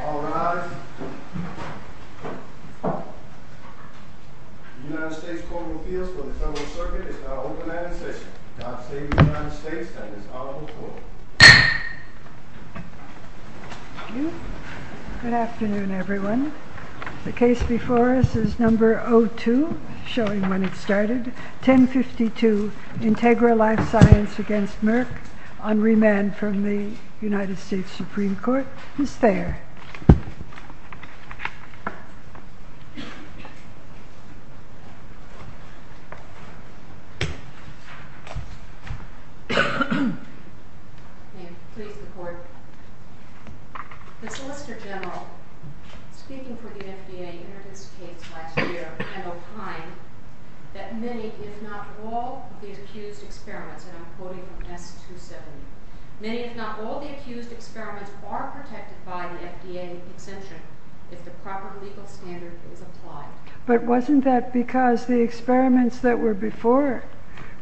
All rise. The United States Court of Appeals for the Federal Circuit is now open and in session. God save the United States and his Honorable Court. Good afternoon everyone. The case before us is number 02, showing when it started. 1052 Integra LifeSciences v. Merck on remand from the United States Supreme Court is there. May it please the Court. The Solicitor General, speaking for the FDA in this case last year, had opined that many, if not all, of the accused experiments, and I'm quoting from S. 270, many, if not all, of the accused experiments are protected by the FDA exemption if the proper legal standard is applied. But wasn't that because the experiments that were before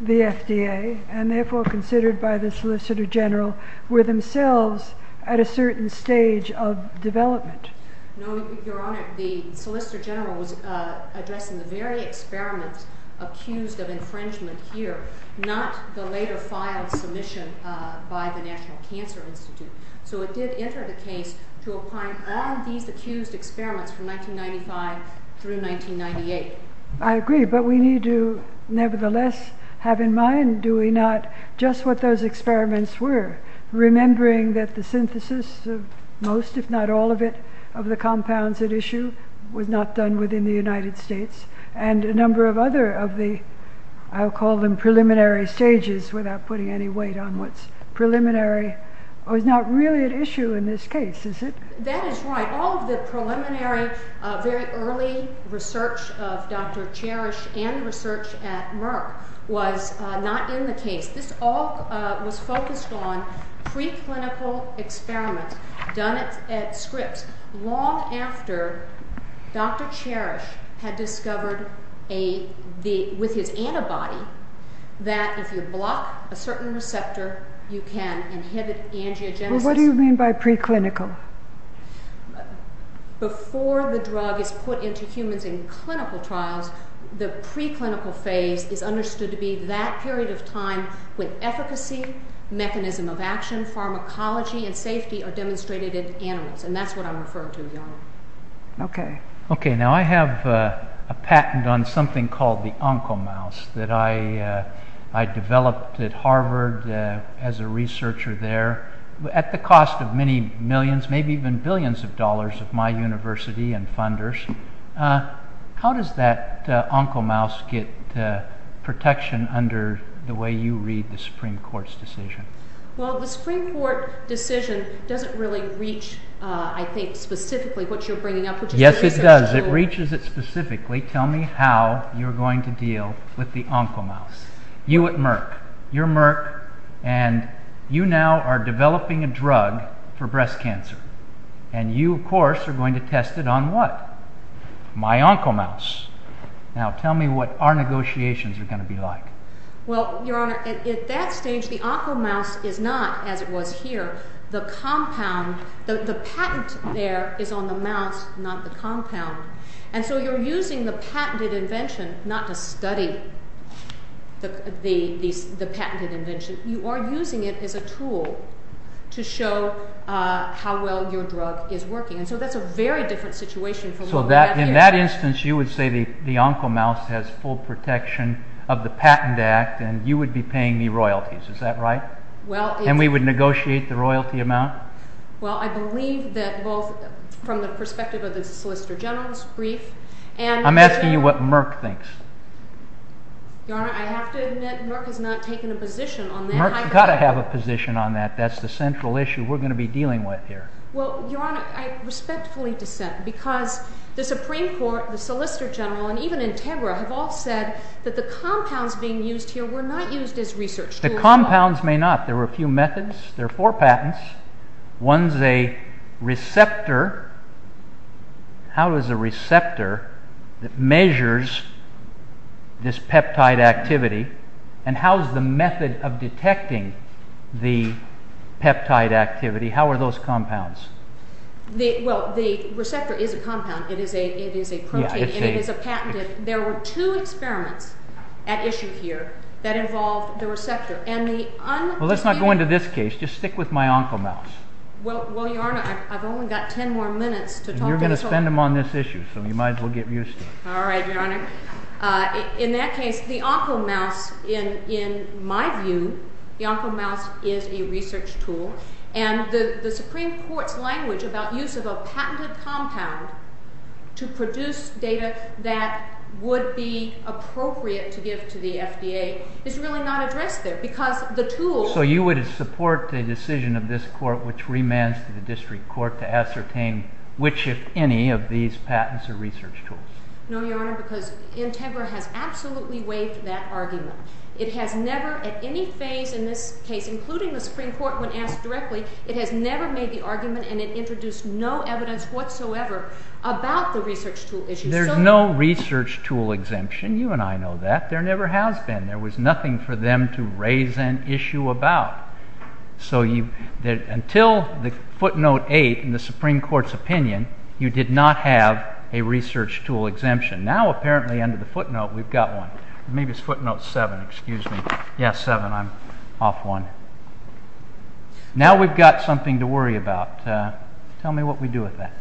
the FDA, and therefore considered by the Solicitor General, were themselves at a certain stage of development? No, Your Honor. The Solicitor General was addressing the very experiments accused of infringement here, not the later filed submission by the National Cancer Institute. So it did enter the case to apply all these accused experiments from 1995 through 1998. I agree, but we need to nevertheless have in mind, do we not, just what those experiments were, remembering that the synthesis of most, if not all of it, of the compounds at issue was not done within the United States, and a number of other of the, I'll call them preliminary stages, without putting any weight on what's preliminary, was not really at issue in this case, is it? That is right. All of the preliminary, very early research of Dr. Cherish and research at Merck was not in the case. This all was focused on preclinical experiments done at Scripps, long after Dr. Cherish had discovered with his antibody that if you block a certain receptor, you can inhibit angiogenesis. What do you mean by preclinical? Before the drug is put into humans in clinical trials, the preclinical phase is understood to be that period of time when efficacy, mechanism of action, pharmacology, and safety are demonstrated in animals, and that's what I'm referring to, Your Honor. Okay, now I have a patent on something called the OncoMouse that I developed at Harvard as a researcher there, at the cost of many millions, maybe even billions of dollars of my university and funders. How does that OncoMouse get protection under the way you read the Supreme Court's decision? Well, the Supreme Court decision doesn't really reach, I think, specifically what you're bringing up. Yes, it does. It reaches it specifically. Tell me how you're going to deal with the OncoMouse. You at Merck, you're Merck, and you now are developing a drug for breast cancer, and you, of course, are going to test it on what? My OncoMouse. Now tell me what our negotiations are going to be like. Well, Your Honor, at that stage, the OncoMouse is not, as it was here, the compound. The patent there is on the mouse, not the compound, and so you're using the patented invention not to study the patented invention. You are using it as a tool to show how well your drug is working, and so that's a very different situation from what we have here. In that instance, you would say the OncoMouse has full protection of the patent act, and you would be paying me royalties. Is that right? Well, it's… And we would negotiate the royalty amount? Well, I believe that both from the perspective of the Solicitor General's brief and… I'm asking you what Merck thinks. Your Honor, I have to admit Merck has not taken a position on that. Merck's got to have a position on that. That's the central issue we're going to be dealing with here. Well, Your Honor, I respectfully dissent because the Supreme Court, the Solicitor General, and even Integra have all said that the compounds being used here were not used as research tools. The compounds may not. There were a few methods. There are four patents. One is a receptor. How is a receptor that measures this peptide activity, and how is the method of detecting the peptide activity? How are those compounds? Well, the receptor is a compound. It is a protein. It is a patent. There were two experiments at issue here that involved the receptor. Well, let's not go into this case. Just stick with my oncomouse. Well, Your Honor, I've only got ten more minutes to talk to you. And you're going to spend them on this issue, so you might as well get used to it. All right, Your Honor. In that case, the oncomouse, in my view, the oncomouse is a research tool, and the Supreme Court's language about use of a patented compound to produce data that would be appropriate to give to the FDA is really not addressed there because the tool— So you would support the decision of this Court, which remands to the District Court, to ascertain which, if any, of these patents are research tools? No, Your Honor, because Integra has absolutely waived that argument. It has never at any phase in this case, including the Supreme Court when asked directly, it has never made the argument and it introduced no evidence whatsoever about the research tool issue. There's no research tool exemption. You and I know that. There never has been. There was nothing for them to raise an issue about. So until the footnote 8 in the Supreme Court's opinion, you did not have a research tool exemption. Now, apparently, under the footnote, we've got one. Maybe it's footnote 7. Excuse me. Yes, 7. I'm off one. Now we've got something to worry about. Tell me what we do with that.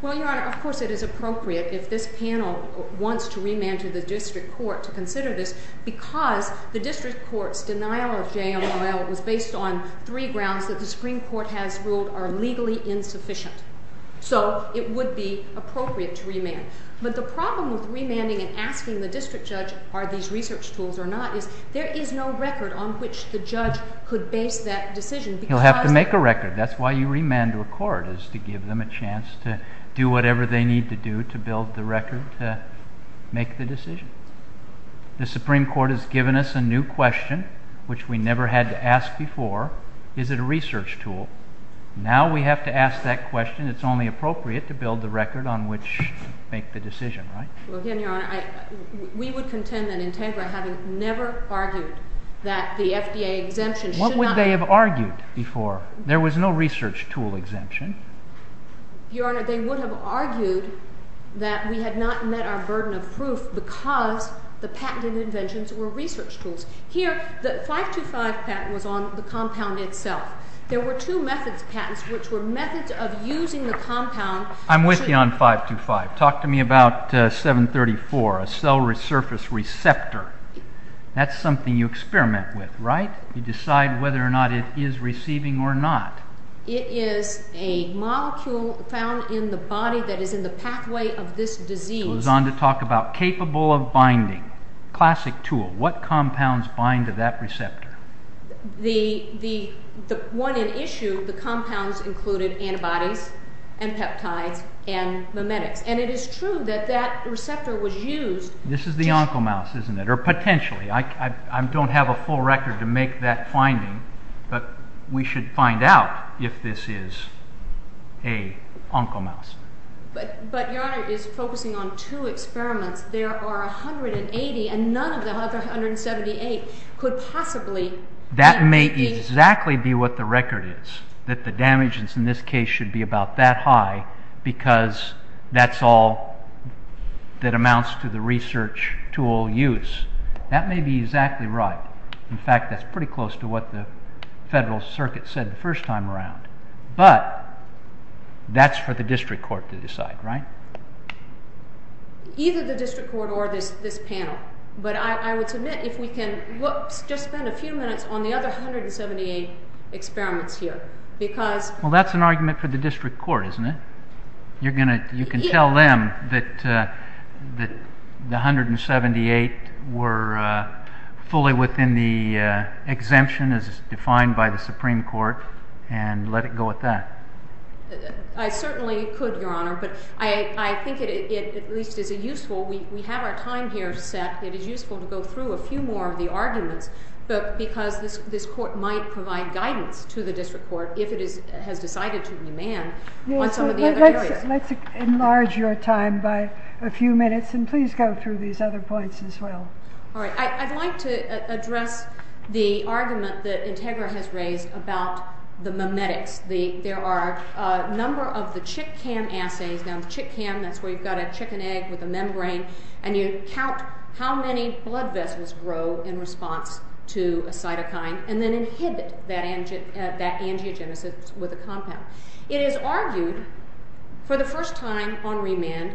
Well, Your Honor, of course it is appropriate if this panel wants to remand to the District Court to consider this because the District Court's denial of JMLL was based on three grounds that the Supreme Court has ruled are legally insufficient. So it would be appropriate to remand. But the problem with remanding and asking the District Judge are these research tools or not is there is no record on which the judge could base that decision because— He'll have to make a record. That's why you remand to a court is to give them a chance to do whatever they need to do to build the record to make the decision. The Supreme Court has given us a new question, which we never had to ask before. Is it a research tool? Now we have to ask that question. It's only appropriate to build the record on which to make the decision, right? Well, again, Your Honor, we would contend that Integra, having never argued that the FDA exemption— What would they have argued before? There was no research tool exemption. Your Honor, they would have argued that we had not met our burden of proof because the patented inventions were research tools. Here, the 525 patent was on the compound itself. There were two methods patents, which were methods of using the compound— I'm with you on 525. Talk to me about 734, a cell surface receptor. That's something you experiment with, right? You decide whether or not it is receiving or not. It is a molecule found in the body that is in the pathway of this disease. It goes on to talk about capable of binding, classic tool. What compounds bind to that receptor? The one in issue, the compounds included antibodies and peptides and memetics. And it is true that that receptor was used— This is the oncomouse, isn't it, or potentially. I don't have a full record to make that finding, but we should find out if this is an oncomouse. But, Your Honor, it is focusing on two experiments. There are 180, and none of the other 178 could possibly be— That may exactly be what the record is, that the damage in this case should be about that high because that's all that amounts to the research tool use. That may be exactly right. In fact, that's pretty close to what the federal circuit said the first time around. But that's for the district court to decide, right? Either the district court or this panel. But I would submit if we can just spend a few minutes on the other 178 experiments here because— Well, that's an argument for the district court, isn't it? You can tell them that the 178 were fully within the exemption as defined by the Supreme Court and let it go at that. I certainly could, Your Honor, but I think it at least is useful. We have our time here set. It is useful to go through a few more of the arguments because this court might provide guidance to the district court if it has decided to remand on some of the other areas. Let's enlarge your time by a few minutes, and please go through these other points as well. All right. I'd like to address the argument that Integra has raised about the memetics. There are a number of the chitcan assays. Now, chitcan, that's where you've got a chicken egg with a membrane, and you count how many blood vessels grow in response to a cytokine and then inhibit that angiogenesis with a compound. It is argued for the first time on remand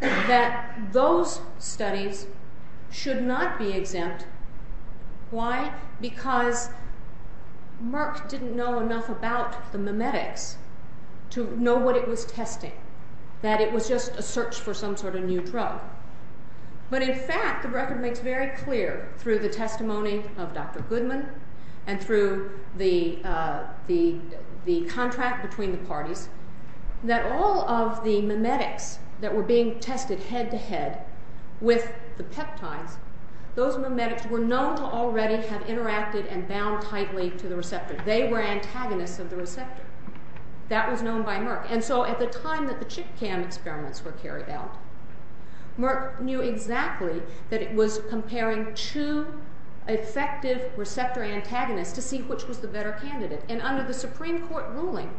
that those studies should not be exempt. Why? Because Merck didn't know enough about the memetics to know what it was testing, that it was just a search for some sort of new drug. But, in fact, the record makes very clear through the testimony of Dr. Goodman and through the contract between the parties that all of the memetics that were being tested head-to-head with the peptides, those memetics were known to already have interacted and bound tightly to the receptor. They were antagonists of the receptor. That was known by Merck. And so at the time that the chitcan experiments were carried out, Merck knew exactly that it was comparing two effective receptor antagonists to see which was the better candidate. And under the Supreme Court ruling,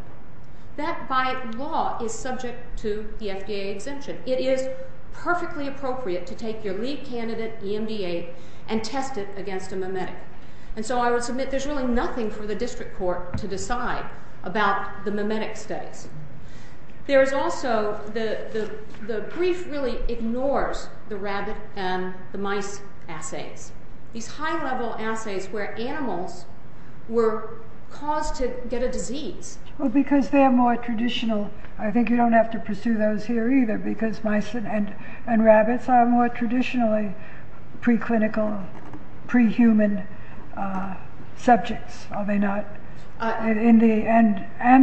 that by law is subject to the FDA exemption. It is perfectly appropriate to take your lead candidate, EMDA, and test it against a memetic. And so I would submit there's really nothing for the district court to decide about the memetic studies. There is also the brief really ignores the rabbit and the mice assays. These high-level assays where animals were caused to get a disease. Well, because they're more traditional. I think you don't have to pursue those here either because mice and rabbits are more traditionally preclinical, pre-human subjects, are they not? And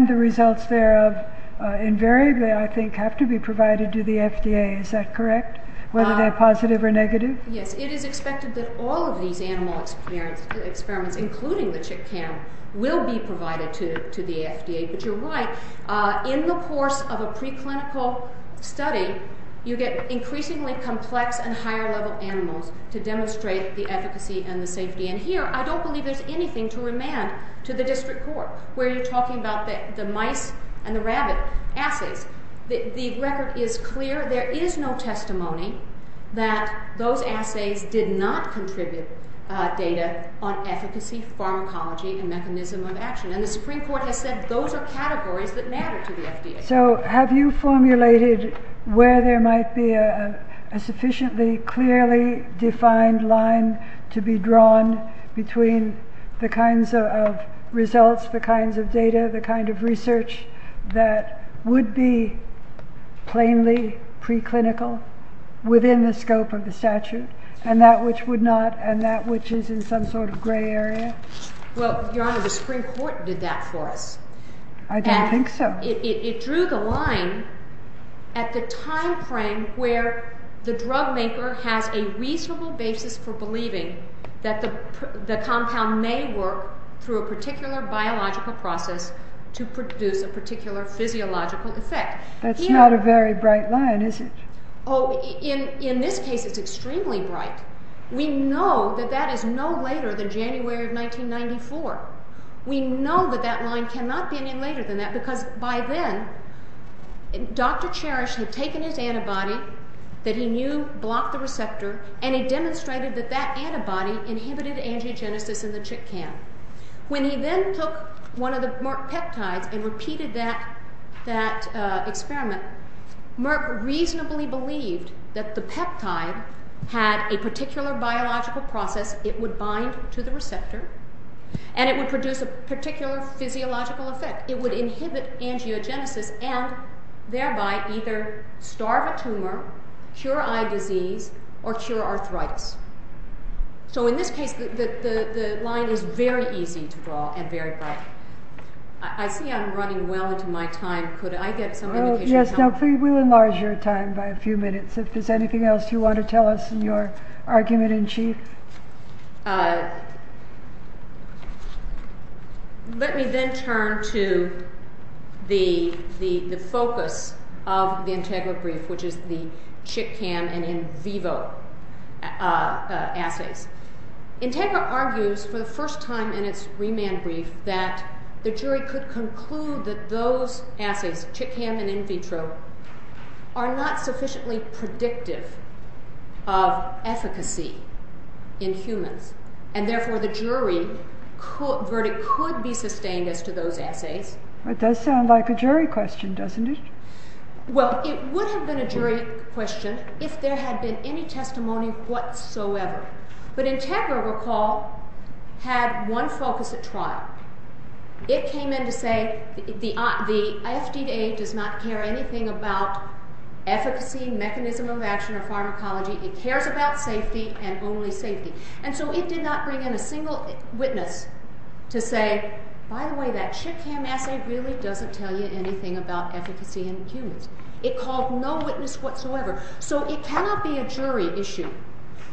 the results thereof invariably, I think, have to be provided to the FDA. Is that correct? Whether they're positive or negative? Yes. It is expected that all of these animal experiments, including the chitcan, will be provided to the FDA. But you're right. In the course of a preclinical study, you get increasingly complex and higher-level animals to demonstrate the efficacy and the safety. And here, I don't believe there's anything to remand to the district court where you're talking about the mice and the rabbit assays. The record is clear. There is no testimony that those assays did not contribute data on efficacy, pharmacology, and mechanism of action. And the Supreme Court has said those are categories that matter to the FDA. So have you formulated where there might be a sufficiently clearly defined line to be drawn between the kinds of results, the kinds of data, the kind of research that would be plainly preclinical within the scope of the statute, and that which would not, and that which is in some sort of gray area? Well, Your Honor, the Supreme Court did that for us. I don't think so. And it drew the line at the time frame where the drugmaker has a reasonable basis for believing that the compound may work through a particular biological process to produce a particular physiological effect. That's not a very bright line, is it? Oh, in this case, it's extremely bright. We know that that is no later than January of 1994. We know that that line cannot be any later than that because by then, Dr. Cherish had taken his antibody that he knew blocked the receptor, and he demonstrated that that antibody inhibited angiogenesis in the chick cam. When he then took one of the Merck peptides and repeated that experiment, Merck reasonably believed that the peptide had a particular biological process. It would bind to the receptor, and it would produce a particular physiological effect. It would inhibit angiogenesis and thereby either starve a tumor, cure eye disease, or cure arthritis. So in this case, the line is very easy to draw and very bright. I see I'm running well into my time. Could I get some indication of time? Yes, we will enlarge your time by a few minutes. If there's anything else you want to tell us in your argument in chief. Let me then turn to the focus of the Integra brief, which is the chick cam and in vivo assays. Integra argues for the first time in its remand brief that the jury could conclude that those assays, chick cam and in vitro, are not sufficiently predictive of efficacy in humans, and therefore the jury verdict could be sustained as to those assays. It does sound like a jury question, doesn't it? Well, it would have been a jury question if there had been any testimony whatsoever. But Integra, recall, had one focus at trial. It came in to say the FDA does not care anything about efficacy, mechanism of action, or pharmacology. It cares about safety and only safety. And so it did not bring in a single witness to say, by the way, that chick cam assay really doesn't tell you anything about efficacy in humans. It called no witness whatsoever. So it cannot be a jury issue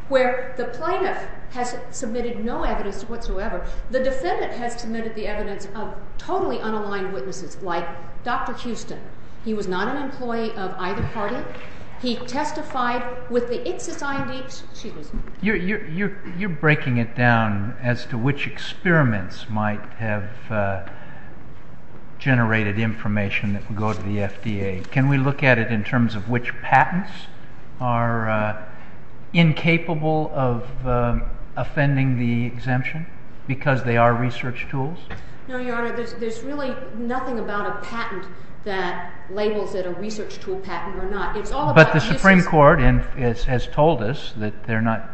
where the plaintiff has submitted no evidence whatsoever. The defendant has submitted the evidence of totally unaligned witnesses, like Dr. Houston. He was not an employee of either party. He testified with the excess ID. You're breaking it down as to which experiments might have generated information that would go to the FDA. Can we look at it in terms of which patents are incapable of offending the exemption because they are research tools? No, Your Honor. There's really nothing about a patent that labels it a research tool patent or not. But the Supreme Court has told us that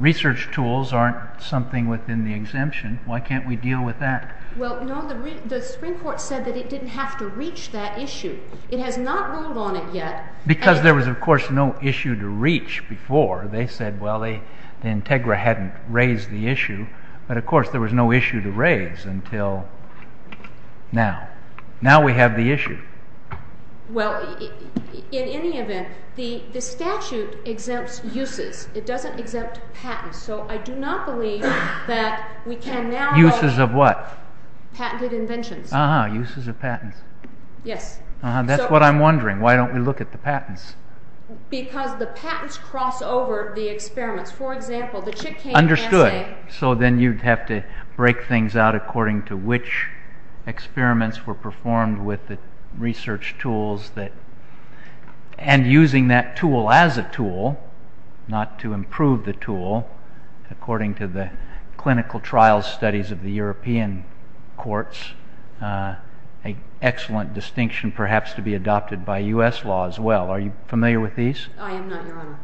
research tools aren't something within the exemption. Why can't we deal with that? Well, no, the Supreme Court said that it didn't have to reach that issue. It has not ruled on it yet. Because there was, of course, no issue to reach before. They said, well, the Integra hadn't raised the issue. But, of course, there was no issue to raise until now. Now we have the issue. Well, in any event, the statute exempts uses. It doesn't exempt patents. So I do not believe that we can now go- Uses of what? Patented inventions. Ah, uses of patents. Yes. That's what I'm wondering. Why don't we look at the patents? Because the patents cross over the experiments. For example, the Chitkin assay- And using that tool as a tool, not to improve the tool, according to the clinical trial studies of the European courts, an excellent distinction perhaps to be adopted by US law as well. Are you familiar with these? I am not, Your Honor.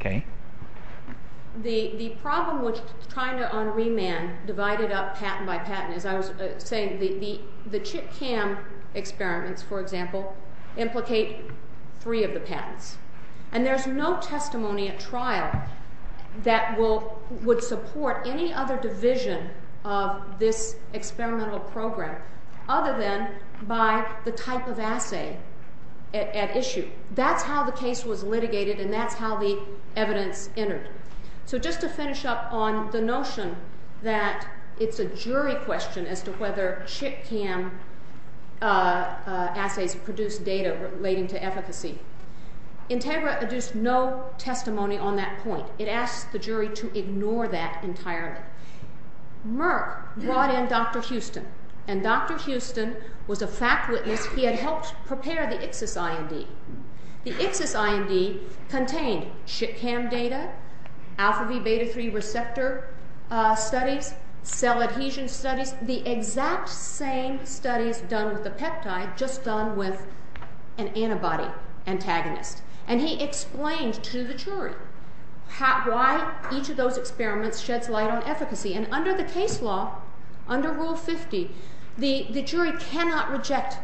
Okay. The problem with trying to unremand, divided up patent by patent, as I was saying, the ChitCam experiments, for example, implicate three of the patents. And there's no testimony at trial that would support any other division of this experimental program other than by the type of assay at issue. That's how the case was litigated, and that's how the evidence entered. So just to finish up on the notion that it's a jury question as to whether ChitCam assays produce data relating to efficacy, Integra adduced no testimony on that point. It asked the jury to ignore that entirely. Merck brought in Dr. Houston, and Dr. Houston was a fact witness. He had helped prepare the ICSIS-IND. The ICSIS-IND contained ChitCam data, Alpha-B Beta-3 receptor studies, cell adhesion studies, the exact same studies done with the peptide, just done with an antibody antagonist. And he explained to the jury why each of those experiments sheds light on efficacy. And under the case law, under Rule 50, the jury cannot reject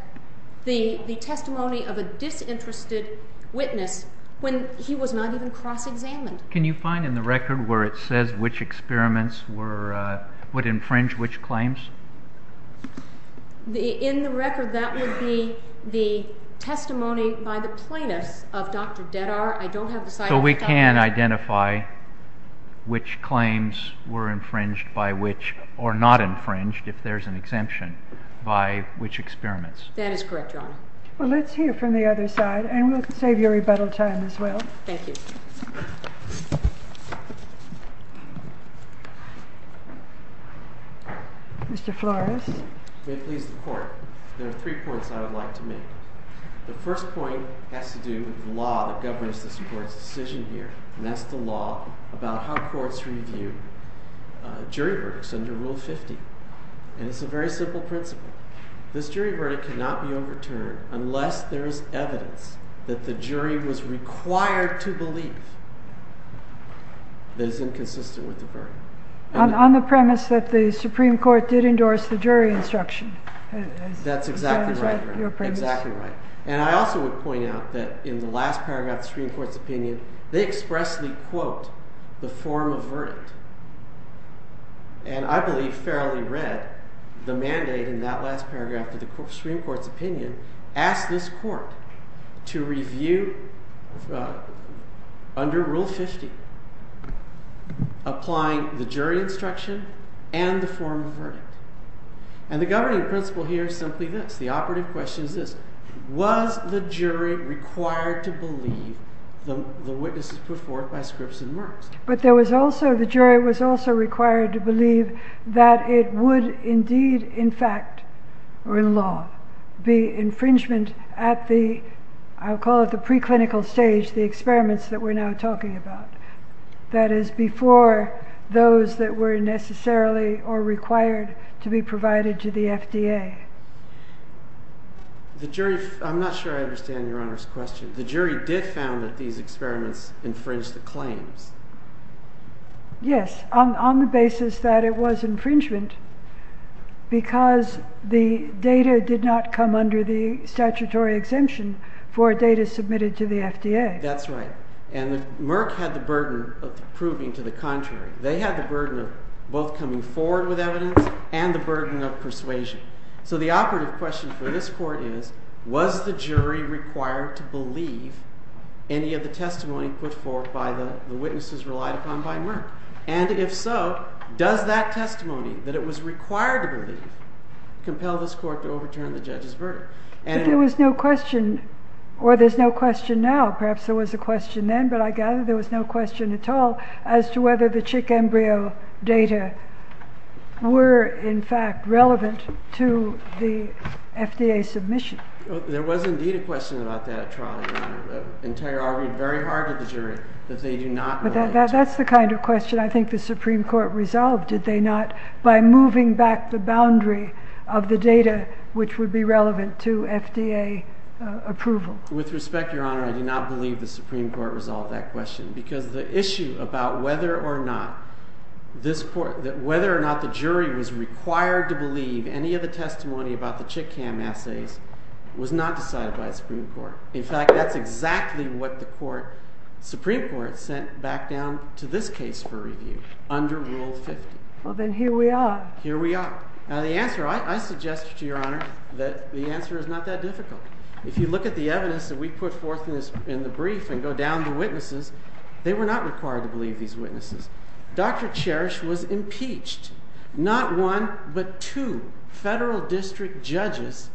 the testimony of a disinterested witness when he was not even cross-examined. Can you find in the record where it says which experiments would infringe which claims? In the record, that would be the testimony by the plaintiffs of Dr. Deddar. So we can identify which claims were infringed by which, or not infringed, if there's an exemption, by which experiments? That is correct, Your Honor. Well, let's hear from the other side, and we'll save your rebuttal time as well. Thank you. Mr. Flores. May it please the Court, there are three points I would like to make. The first point has to do with the law that governs this Court's decision here, and that's the law about how courts review jury verdicts under Rule 50. And it's a very simple principle. This jury verdict cannot be overturned unless there is evidence that the jury was required to believe that it's inconsistent with the verdict. On the premise that the Supreme Court did endorse the jury instruction. That's exactly right, Your Honor. Exactly right. And I also would point out that in the last paragraph of the Supreme Court's opinion, they expressly quote the form of verdict. And I believe fairly read, the mandate in that last paragraph of the Supreme Court's opinion asked this Court to review under Rule 50, applying the jury instruction and the form of verdict. And the governing principle here is simply this. The operative question is this. Was the jury required to believe the witnesses put forth by Scripps and Merckx? But there was also, the jury was also required to believe that it would indeed, in fact, or in law, be infringement at the, I'll call it the preclinical stage, the experiments that we're now talking about. That is before those that were necessarily or required to be provided to the FDA. The jury, I'm not sure I understand Your Honor's question. The jury did found that these experiments infringed the claims. Yes, on the basis that it was infringement because the data did not come under the statutory exemption for data submitted to the FDA. That's right. And Merckx had the burden of proving to the contrary. They had the burden of both coming forward with evidence and the burden of persuasion. So the operative question for this Court is, was the jury required to believe any of the testimony put forth by the witnesses relied upon by Merckx? And if so, does that testimony that it was required to believe compel this Court to overturn the judge's verdict? There was no question or there's no question now. Perhaps there was a question then, but I gather there was no question at all as to whether the chick embryo data were, in fact, relevant to the FDA submission. There was indeed a question about that trial. Entire argued very hard at the jury that they do not. But that's the kind of question I think the Supreme Court resolved. By moving back the boundary of the data, which would be relevant to FDA approval. With respect, Your Honor, I do not believe the Supreme Court resolved that question because the issue about whether or not the jury was required to believe any of the testimony about the chick cam assays was not decided by the Supreme Court. In fact, that's exactly what the Supreme Court sent back down to this case for review under Rule 50. Well, then here we are. Here we are. Now the answer I suggest to Your Honor that the answer is not that difficult. If you look at the evidence that we put forth in the brief and go down the witnesses, they were not required to believe these witnesses. Dr. Cherish was impeached. Not one, but two federal district judges,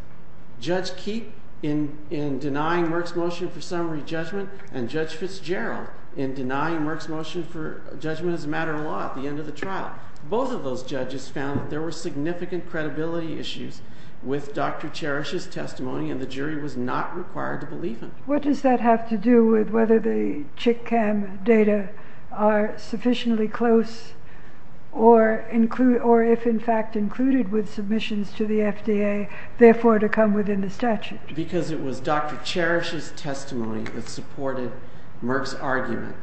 Judge Keat in denying Merck's motion for summary judgment and Judge Fitzgerald in denying Merck's motion for judgment as a matter of law at the end of the trial. Both of those judges found that there were significant credibility issues with Dr. Cherish's testimony and the jury was not required to believe him. What does that have to do with whether the chick cam data are sufficiently close or if in fact included with submissions to the FDA, therefore to come within the statute? Because it was Dr. Cherish's testimony that supported Merck's argument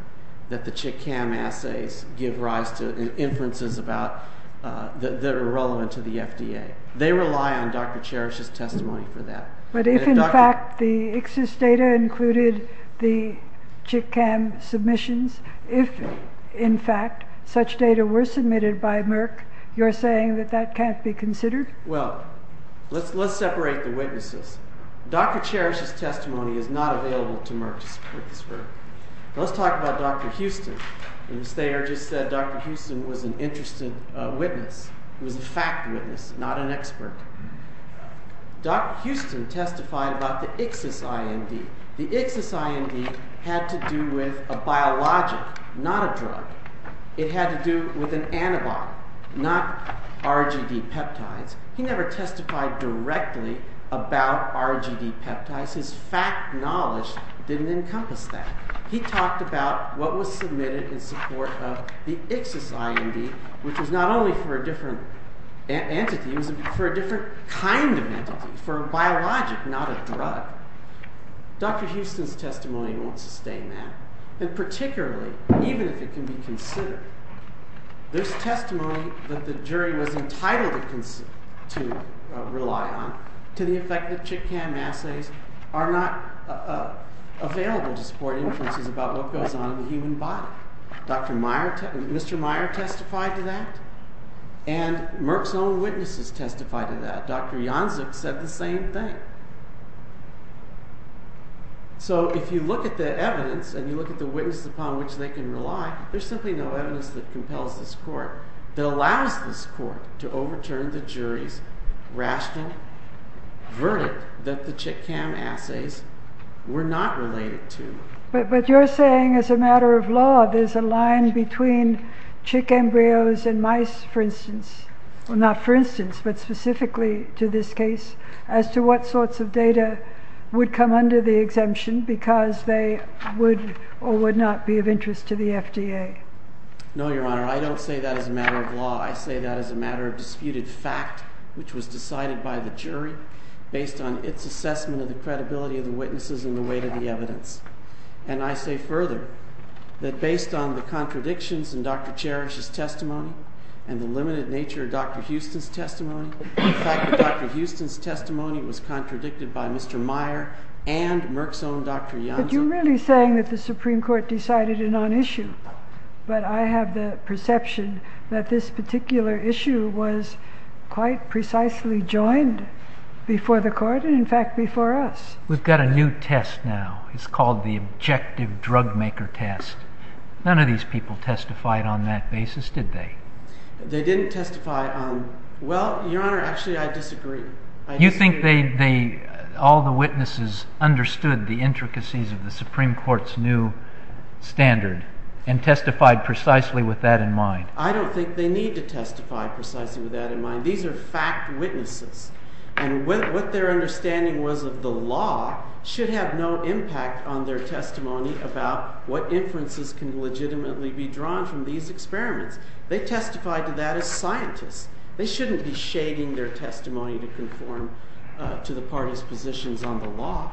that the chick cam assays give rise to inferences that are relevant to the FDA. They rely on Dr. Cherish's testimony for that. But if in fact the ICSIS data included the chick cam submissions, if in fact such data were submitted by Merck, you're saying that that can't be considered? Well, let's separate the witnesses. Dr. Cherish's testimony is not available to Merck to support this verdict. Let's talk about Dr. Houston. Ms. Thayer just said Dr. Houston was an interested witness. He was a fact witness, not an expert. Dr. Houston testified about the ICSIS-IND. The ICSIS-IND had to do with a biologic, not a drug. It had to do with an antibond, not RGD peptides. He never testified directly about RGD peptides. His fact knowledge didn't encompass that. He talked about what was submitted in support of the ICSIS-IND, which was not only for a different entity, it was for a different kind of entity, for a biologic, not a drug. Dr. Houston's testimony won't sustain that. And particularly, even if it can be considered, this testimony that the jury was entitled to rely on to the effect that chit-cam assays are not available to support inferences about what goes on in the human body. Mr. Meyer testified to that, and Merck's own witnesses testified to that. Dr. Janczuk said the same thing. So if you look at the evidence, and you look at the witnesses upon which they can rely, there's simply no evidence that compels this court, that allows this court to overturn the jury's rational verdict that the chit-cam assays were not related to. But you're saying as a matter of law, there's a line between chick embryos and mice, for instance. Well, not for instance, but specifically to this case, as to what sorts of data would come under the exemption because they would or would not be of interest to the FDA. No, Your Honor, I don't say that as a matter of law. I say that as a matter of disputed fact, which was decided by the jury based on its assessment of the credibility of the witnesses and the weight of the evidence. And I say further that based on the contradictions in Dr. Cherish's testimony and the limited nature of Dr. Houston's testimony, the fact that Dr. Houston's testimony was contradicted by Mr. Meyer and Merck's own Dr. Janczuk. You're really saying that the Supreme Court decided a non-issue, but I have the perception that this particular issue was quite precisely joined before the court and, in fact, before us. We've got a new test now. It's called the objective drug-maker test. None of these people testified on that basis, did they? They didn't testify on – well, Your Honor, actually, I disagree. You think they – all the witnesses understood the intricacies of the Supreme Court's new standard and testified precisely with that in mind? I don't think they need to testify precisely with that in mind. These are fact witnesses. And what their understanding was of the law should have no impact on their testimony about what inferences can legitimately be drawn from these experiments. They testified to that as scientists. They shouldn't be shading their testimony to conform to the parties' positions on the law.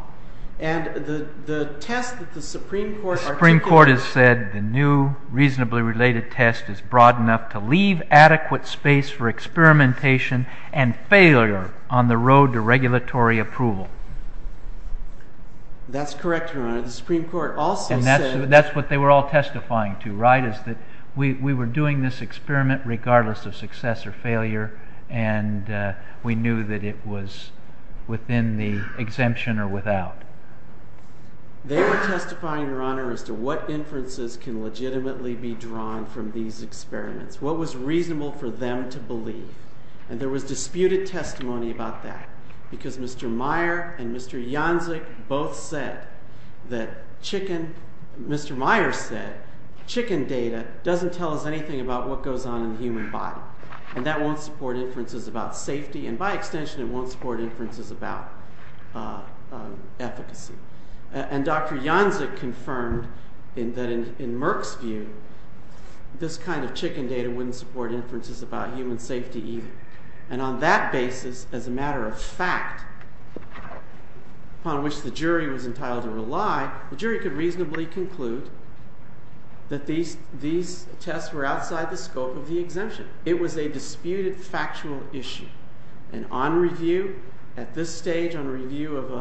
And the test that the Supreme Court articulated – The Supreme Court has said the new reasonably related test is broad enough to leave adequate space for experimentation and failure on the road to regulatory approval. That's correct, Your Honor. The Supreme Court also said – We were doing this experiment regardless of success or failure, and we knew that it was within the exemption or without. They were testifying, Your Honor, as to what inferences can legitimately be drawn from these experiments, what was reasonable for them to believe. And there was disputed testimony about that because Mr. Meyer and Mr. Janczyk both said that chicken – Mr. Meyer said chicken data doesn't tell us anything about what goes on in the human body. And that won't support inferences about safety, and by extension, it won't support inferences about efficacy. And Dr. Janczyk confirmed that in Merck's view, this kind of chicken data wouldn't support inferences about human safety either. And on that basis, as a matter of fact, upon which the jury was entitled to rely, the jury could reasonably conclude that these tests were outside the scope of the exemption. It was a disputed factual issue. And on review at this stage, on review of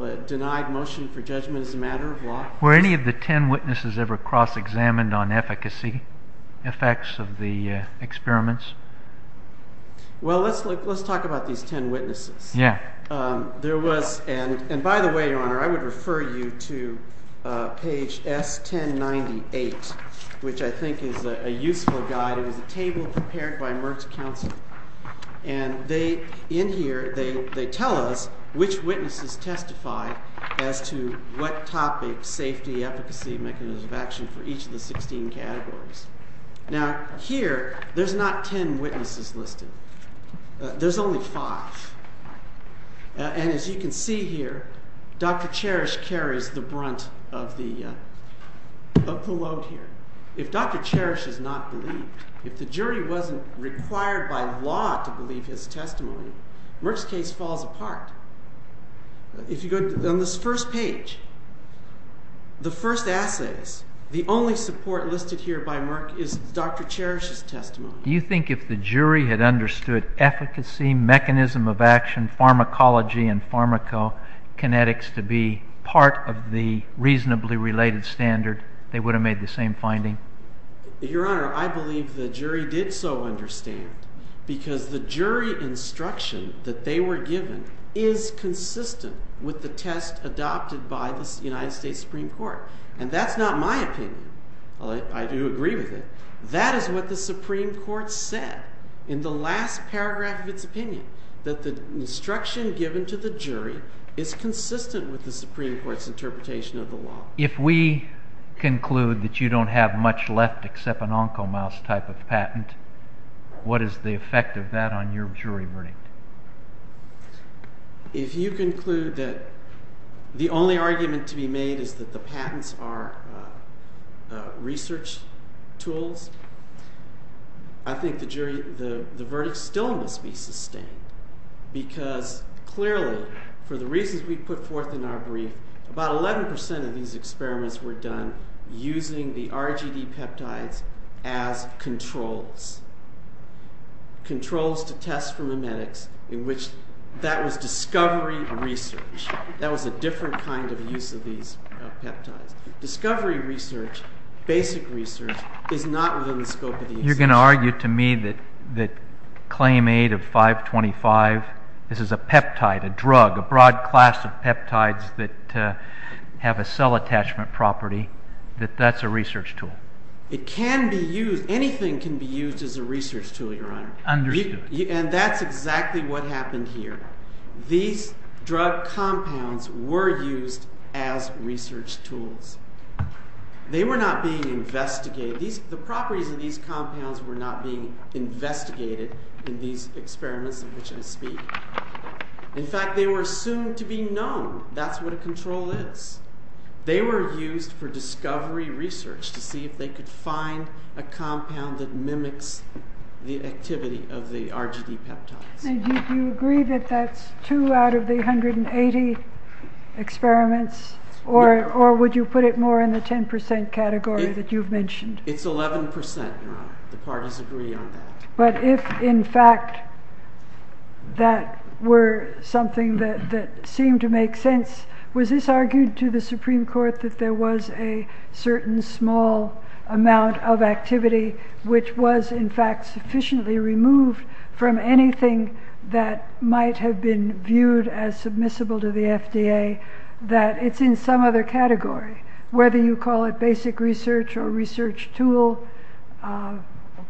a denied motion for judgment as a matter of law – Were any of the ten witnesses ever cross-examined on efficacy effects of the experiments? Well, let's talk about these ten witnesses. Yeah. There was – and by the way, Your Honor, I would refer you to page S1098, which I think is a useful guide. It was a table prepared by Merck's counsel. And they – in here, they tell us which witnesses testify as to what topic, safety, efficacy, mechanism of action for each of the 16 categories. Now, here, there's not ten witnesses listed. There's only five. And as you can see here, Dr. Cherish carries the brunt of the load here. If Dr. Cherish is not believed, if the jury wasn't required by law to believe his testimony, Merck's case falls apart. If you go on this first page, the first assays, the only support listed here by Merck is Dr. Cherish's testimony. Do you think if the jury had understood efficacy, mechanism of action, pharmacology, and pharmacokinetics to be part of the reasonably related standard, they would have made the same finding? Your Honor, I believe the jury did so understand because the jury instruction that they were given is consistent with the test adopted by the United States Supreme Court. And that's not my opinion. I do agree with it. That is what the Supreme Court said in the last paragraph of its opinion, that the instruction given to the jury is consistent with the Supreme Court's interpretation of the law. If we conclude that you don't have much left except an oncomouse type of patent, what is the effect of that on your jury verdict? If you conclude that the only argument to be made is that the patents are research tools, I think the verdict still must be sustained. Because clearly, for the reasons we put forth in our brief, about 11% of these experiments were done using the RGD peptides as controls. Controls to test for memetics in which that was discovery research. That was a different kind of use of these peptides. Discovery research, basic research, is not within the scope of the assessment. You're going to argue to me that claim 8 of 525, this is a peptide, a drug, a broad class of peptides that have a cell attachment property, that that's a research tool. It can be used. Anything can be used as a research tool, Your Honor. Understood. And that's exactly what happened here. These drug compounds were used as research tools. They were not being investigated. The properties of these compounds were not being investigated in these experiments in which I speak. In fact, they were assumed to be known. That's what a control is. They were used for discovery research to see if they could find a compound that mimics the activity of the RGD peptides. Do you agree that that's 2 out of the 180 experiments? Or would you put it more in the 10% category that you've mentioned? It's 11%, Your Honor. The parties agree on that. But if, in fact, that were something that seemed to make sense, was this argued to the Supreme Court that there was a certain small amount of activity, which was, in fact, sufficiently removed from anything that might have been viewed as submissible to the FDA, that it's in some other category, whether you call it basic research or research tool,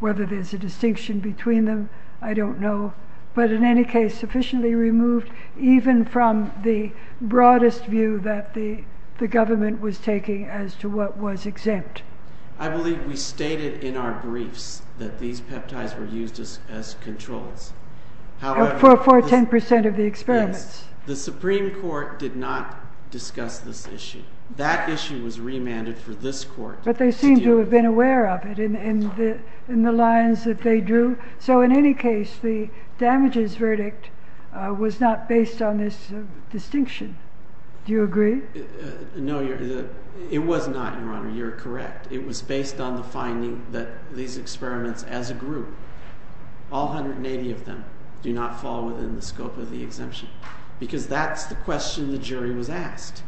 whether there's a distinction between them, I don't know. But in any case, sufficiently removed even from the broadest view that the government was taking as to what was exempt. I believe we stated in our briefs that these peptides were used as controls. For 10% of the experiments. The Supreme Court did not discuss this issue. That issue was remanded for this court. But they seem to have been aware of it in the lines that they drew. So in any case, the damages verdict was not based on this distinction. Do you agree? No, it was not, Your Honor. You're correct. It was based on the finding that these experiments as a group, all 180 of them, do not fall within the scope of the exemption. Because that's the question the jury was asked.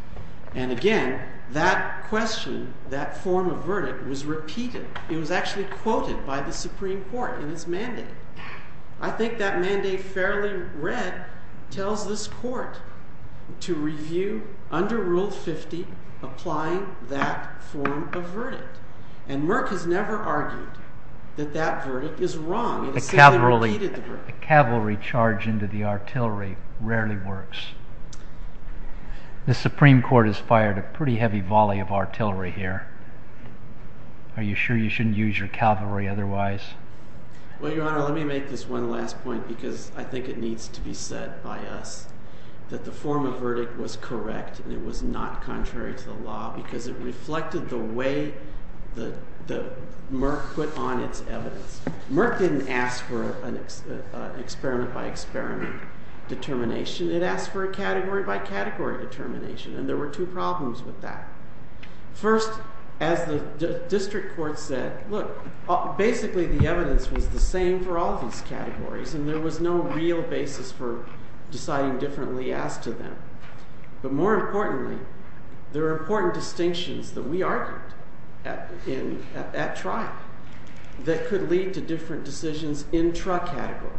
And again, that question, that form of verdict, was repeated. It was actually quoted by the Supreme Court in its mandate. I think that mandate, fairly read, tells this court to review under Rule 50, applying that form of verdict. And Merck has never argued that that verdict is wrong. The cavalry charge into the artillery rarely works. The Supreme Court has fired a pretty heavy volley of artillery here. Are you sure you shouldn't use your cavalry otherwise? Well, Your Honor, let me make this one last point because I think it needs to be said by us. That the form of verdict was correct and it was not contrary to the law because it reflected the way that Merck put on its evidence. Merck didn't ask for an experiment by experiment determination. It asked for a category by category determination. And there were two problems with that. First, as the district court said, look, basically the evidence was the same for all these categories. And there was no real basis for deciding differently as to them. But more importantly, there are important distinctions that we argued at trial that could lead to different decisions in truck category.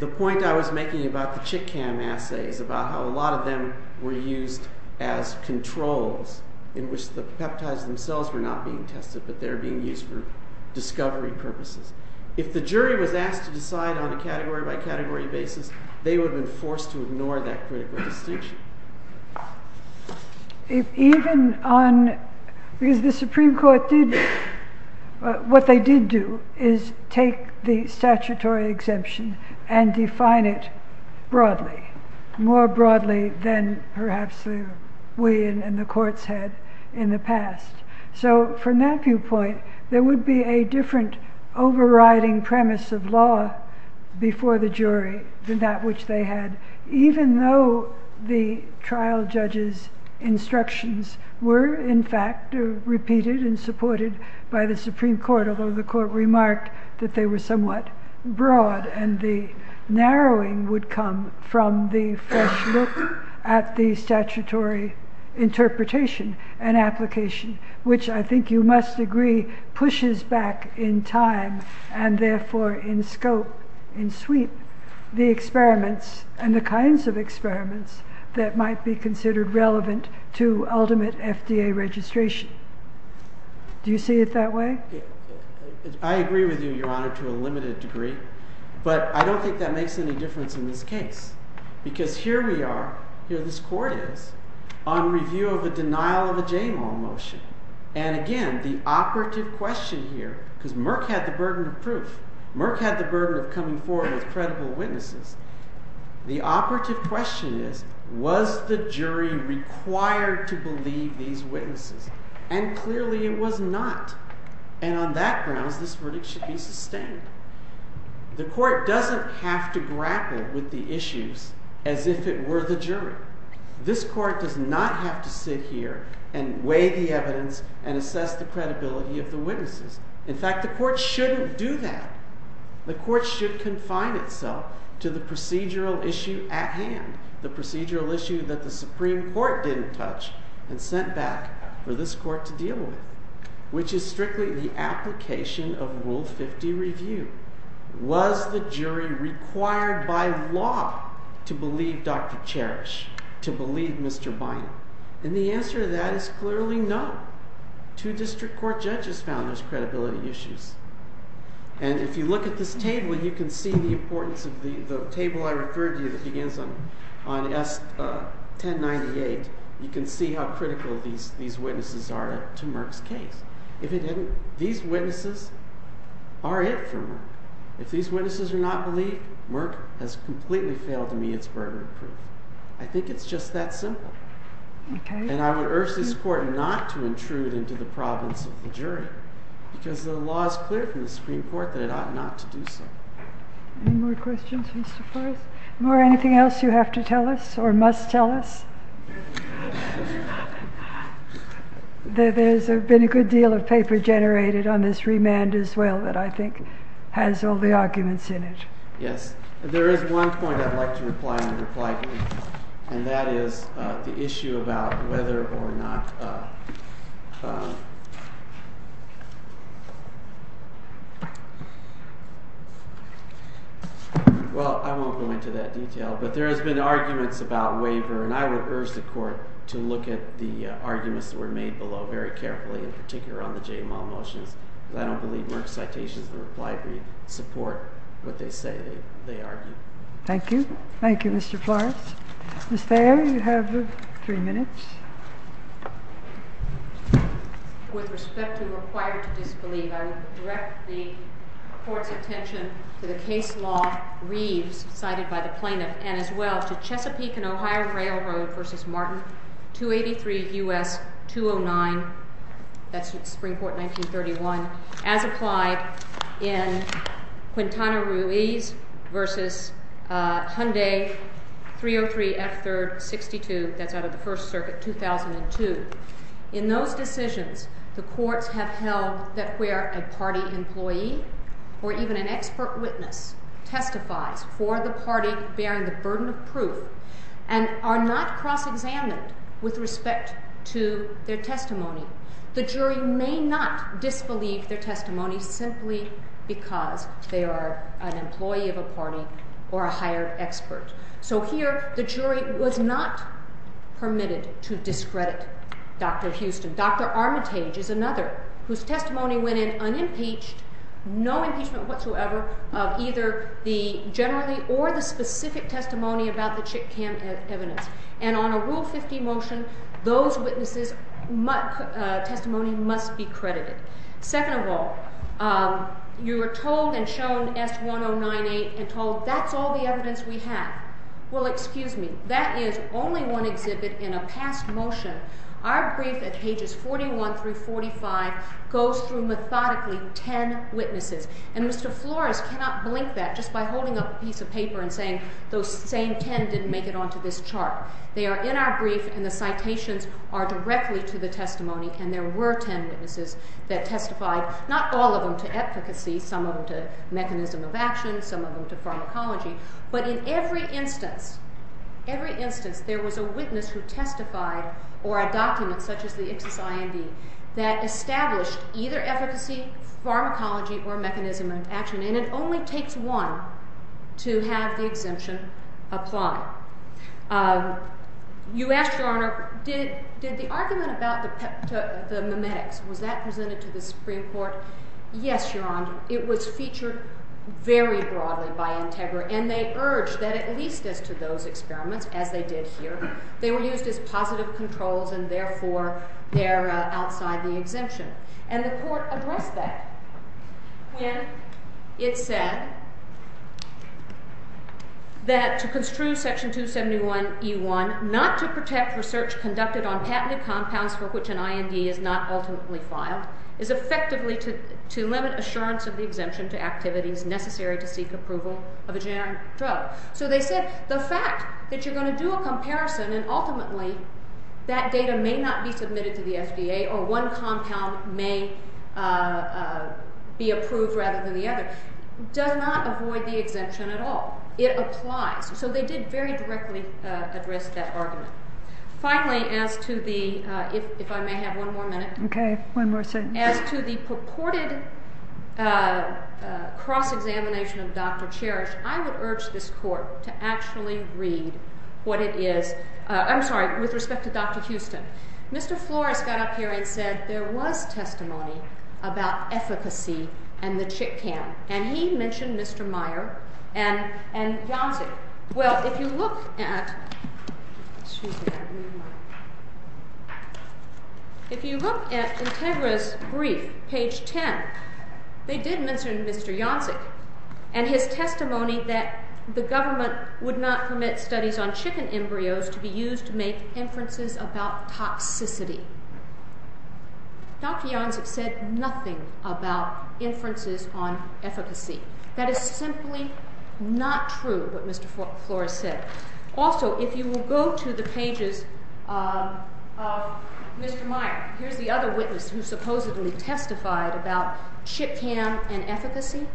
The point I was making about the chick cam assays, about how a lot of them were used as controls, in which the peptides themselves were not being tested, but they were being used for discovery purposes. If the jury was asked to decide on a category by category basis, they would have been forced to ignore that critical distinction. If even on, because the Supreme Court did, what they did do is take the statutory exemption and define it broadly, more broadly than perhaps we in the courts had in the past. So from that viewpoint, there would be a different overriding premise of law before the jury than that which they had, even though the trial judges instructions were in fact repeated and supported by the Supreme Court, although the court remarked that they were somewhat broad. And the narrowing would come from the fresh look at the statutory interpretation and application, which I think you must agree pushes back in time and therefore in scope, in sweep, the experiments and the kinds of experiments that might be considered relevant to ultimate FDA registration. Do you see it that way? I agree with you, Your Honor, to a limited degree, but I don't think that makes any difference in this case. Because here we are, here this court is, on review of a denial of a JAMAL motion. And again, the operative question here, because Merck had the burden of proof. Merck had the burden of coming forward with credible witnesses. The operative question is, was the jury required to believe these witnesses? And clearly it was not. And on that grounds, this verdict should be sustained. The court doesn't have to grapple with the issues as if it were the jury. This court does not have to sit here and weigh the evidence and assess the credibility of the witnesses. In fact, the court shouldn't do that. The court should confine itself to the procedural issue at hand, the procedural issue that the Supreme Court didn't touch and sent back for this court to deal with, which is strictly the application of Rule 50 Review. Was the jury required by law to believe Dr. Cherish, to believe Mr. Bynum? And the answer to that is clearly no. Two district court judges found those credibility issues. And if you look at this table, you can see the importance of the table I referred to that begins on S. 1098. You can see how critical these witnesses are to Merck's case. If it didn't, these witnesses are it for Merck. If these witnesses are not believed, Merck has completely failed to meet its burden of proof. I think it's just that simple. And I would urge this court not to intrude into the province of the jury because the law is clear from the Supreme Court that it ought not to do so. Any more questions, Mr. Forrest? More anything else you have to tell us or must tell us? There's been a good deal of paper generated on this remand as well that I think has all the arguments in it. Yes. There is one point I'd like to reply to. And that is the issue about whether or not... Well, I won't go into that detail. But there has been arguments about waiver. And I would urge the court to look at the arguments that were made below very carefully, in particular on the J. Amal motions. I don't believe Merck's citations in the reply brief support what they say they argue. Thank you. Thank you, Mr. Forrest. Ms. Thayer, you have three minutes. With respect to required to disbelieve, I would direct the court's attention to the case law, Reeves, cited by the plaintiff, and as well to Chesapeake and Ohio Railroad v. Martin, 283 U.S. 209, that's Spring Court 1931, as applied in Quintana Roo vs. Hyundai 303 F-3rd 62, that's out of the First Circuit, 2002. In those decisions, the courts have held that where a party employee or even an expert witness testifies for the party bearing the burden of proof and are not cross-examined with respect to their testimony, the jury may not disbelieve their testimony simply because they are an employee of a party or a hired expert. So here, the jury was not permitted to discredit Dr. Houston. Dr. Armitage is another whose testimony went in unimpeached, no impeachment whatsoever, of either the generally or the specific testimony about the chit cam evidence. And on a Rule 50 motion, those witnesses' testimony must be credited. Second of all, you were told and shown S1098 and told, that's all the evidence we have. Well, excuse me, that is only one exhibit in a past motion. Our brief at pages 41 through 45 goes through methodically 10 witnesses. And Mr. Flores cannot blink that just by holding up a piece of paper and saying those same 10 didn't make it onto this chart. They are in our brief, and the citations are directly to the testimony, and there were 10 witnesses that testified, not all of them to efficacy, some of them to mechanism of action, some of them to pharmacology, but in every instance, every instance, there was a witness who testified or a document such as the Ipsos IMD that established either efficacy, pharmacology, or mechanism of action, and it only takes one to have the exemption apply. You asked, Your Honor, did the argument about the memetics, was that presented to the Supreme Court? Yes, Your Honor, it was featured very broadly by Integra, and they urged that at least as to those experiments, as they did here, they were used as positive controls, and therefore, they're outside the exemption. And the Court addressed that when it said that to construe Section 271E1, not to protect research conducted on patented compounds for which an IMD is not ultimately filed, is effectively to limit assurance of the exemption to activities necessary to seek approval of a generic drug. So they said the fact that you're going to do a comparison and ultimately that data may not be submitted to the FDA or one compound may be approved rather than the other does not avoid the exemption at all. It applies, so they did very directly address that argument. Finally, as to the purported cross-examination of Dr. Cherish, I would urge this Court to actually read what it is. I'm sorry, with respect to Dr. Houston. Mr. Flores got up here and said there was testimony about efficacy and the chit cam, and he mentioned Mr. Meyer and Janzi. Well, if you look at Integra's brief, page 10, they did mention Mr. Janzik and his testimony that the government would not permit studies on chicken embryos to be used to make inferences about toxicity. Dr. Janzik said nothing about inferences on efficacy. That is simply not true, what Mr. Flores said. Also, if you will go to the pages of Mr. Meyer. Here's the other witness who supposedly testified about chit cam and efficacy.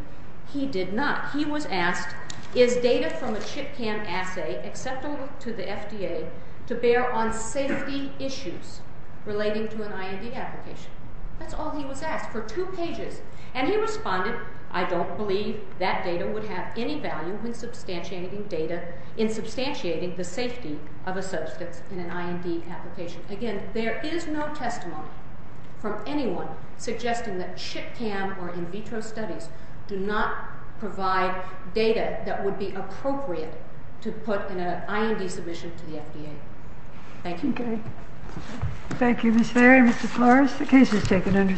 He did not. He was asked, is data from a chit cam assay acceptable to the FDA to bear on safety issues relating to an IND application? That's all he was asked for, two pages. And he responded, I don't believe that data would have any value in substantiating data, in substantiating the safety of a substance in an IND application. Again, there is no testimony from anyone suggesting that chit cam or in vitro studies do not provide data that would be appropriate to put in an IND submission to the FDA. Thank you. Thank you, Ms. Ferry and Mr. Flores. The case is taken under submission.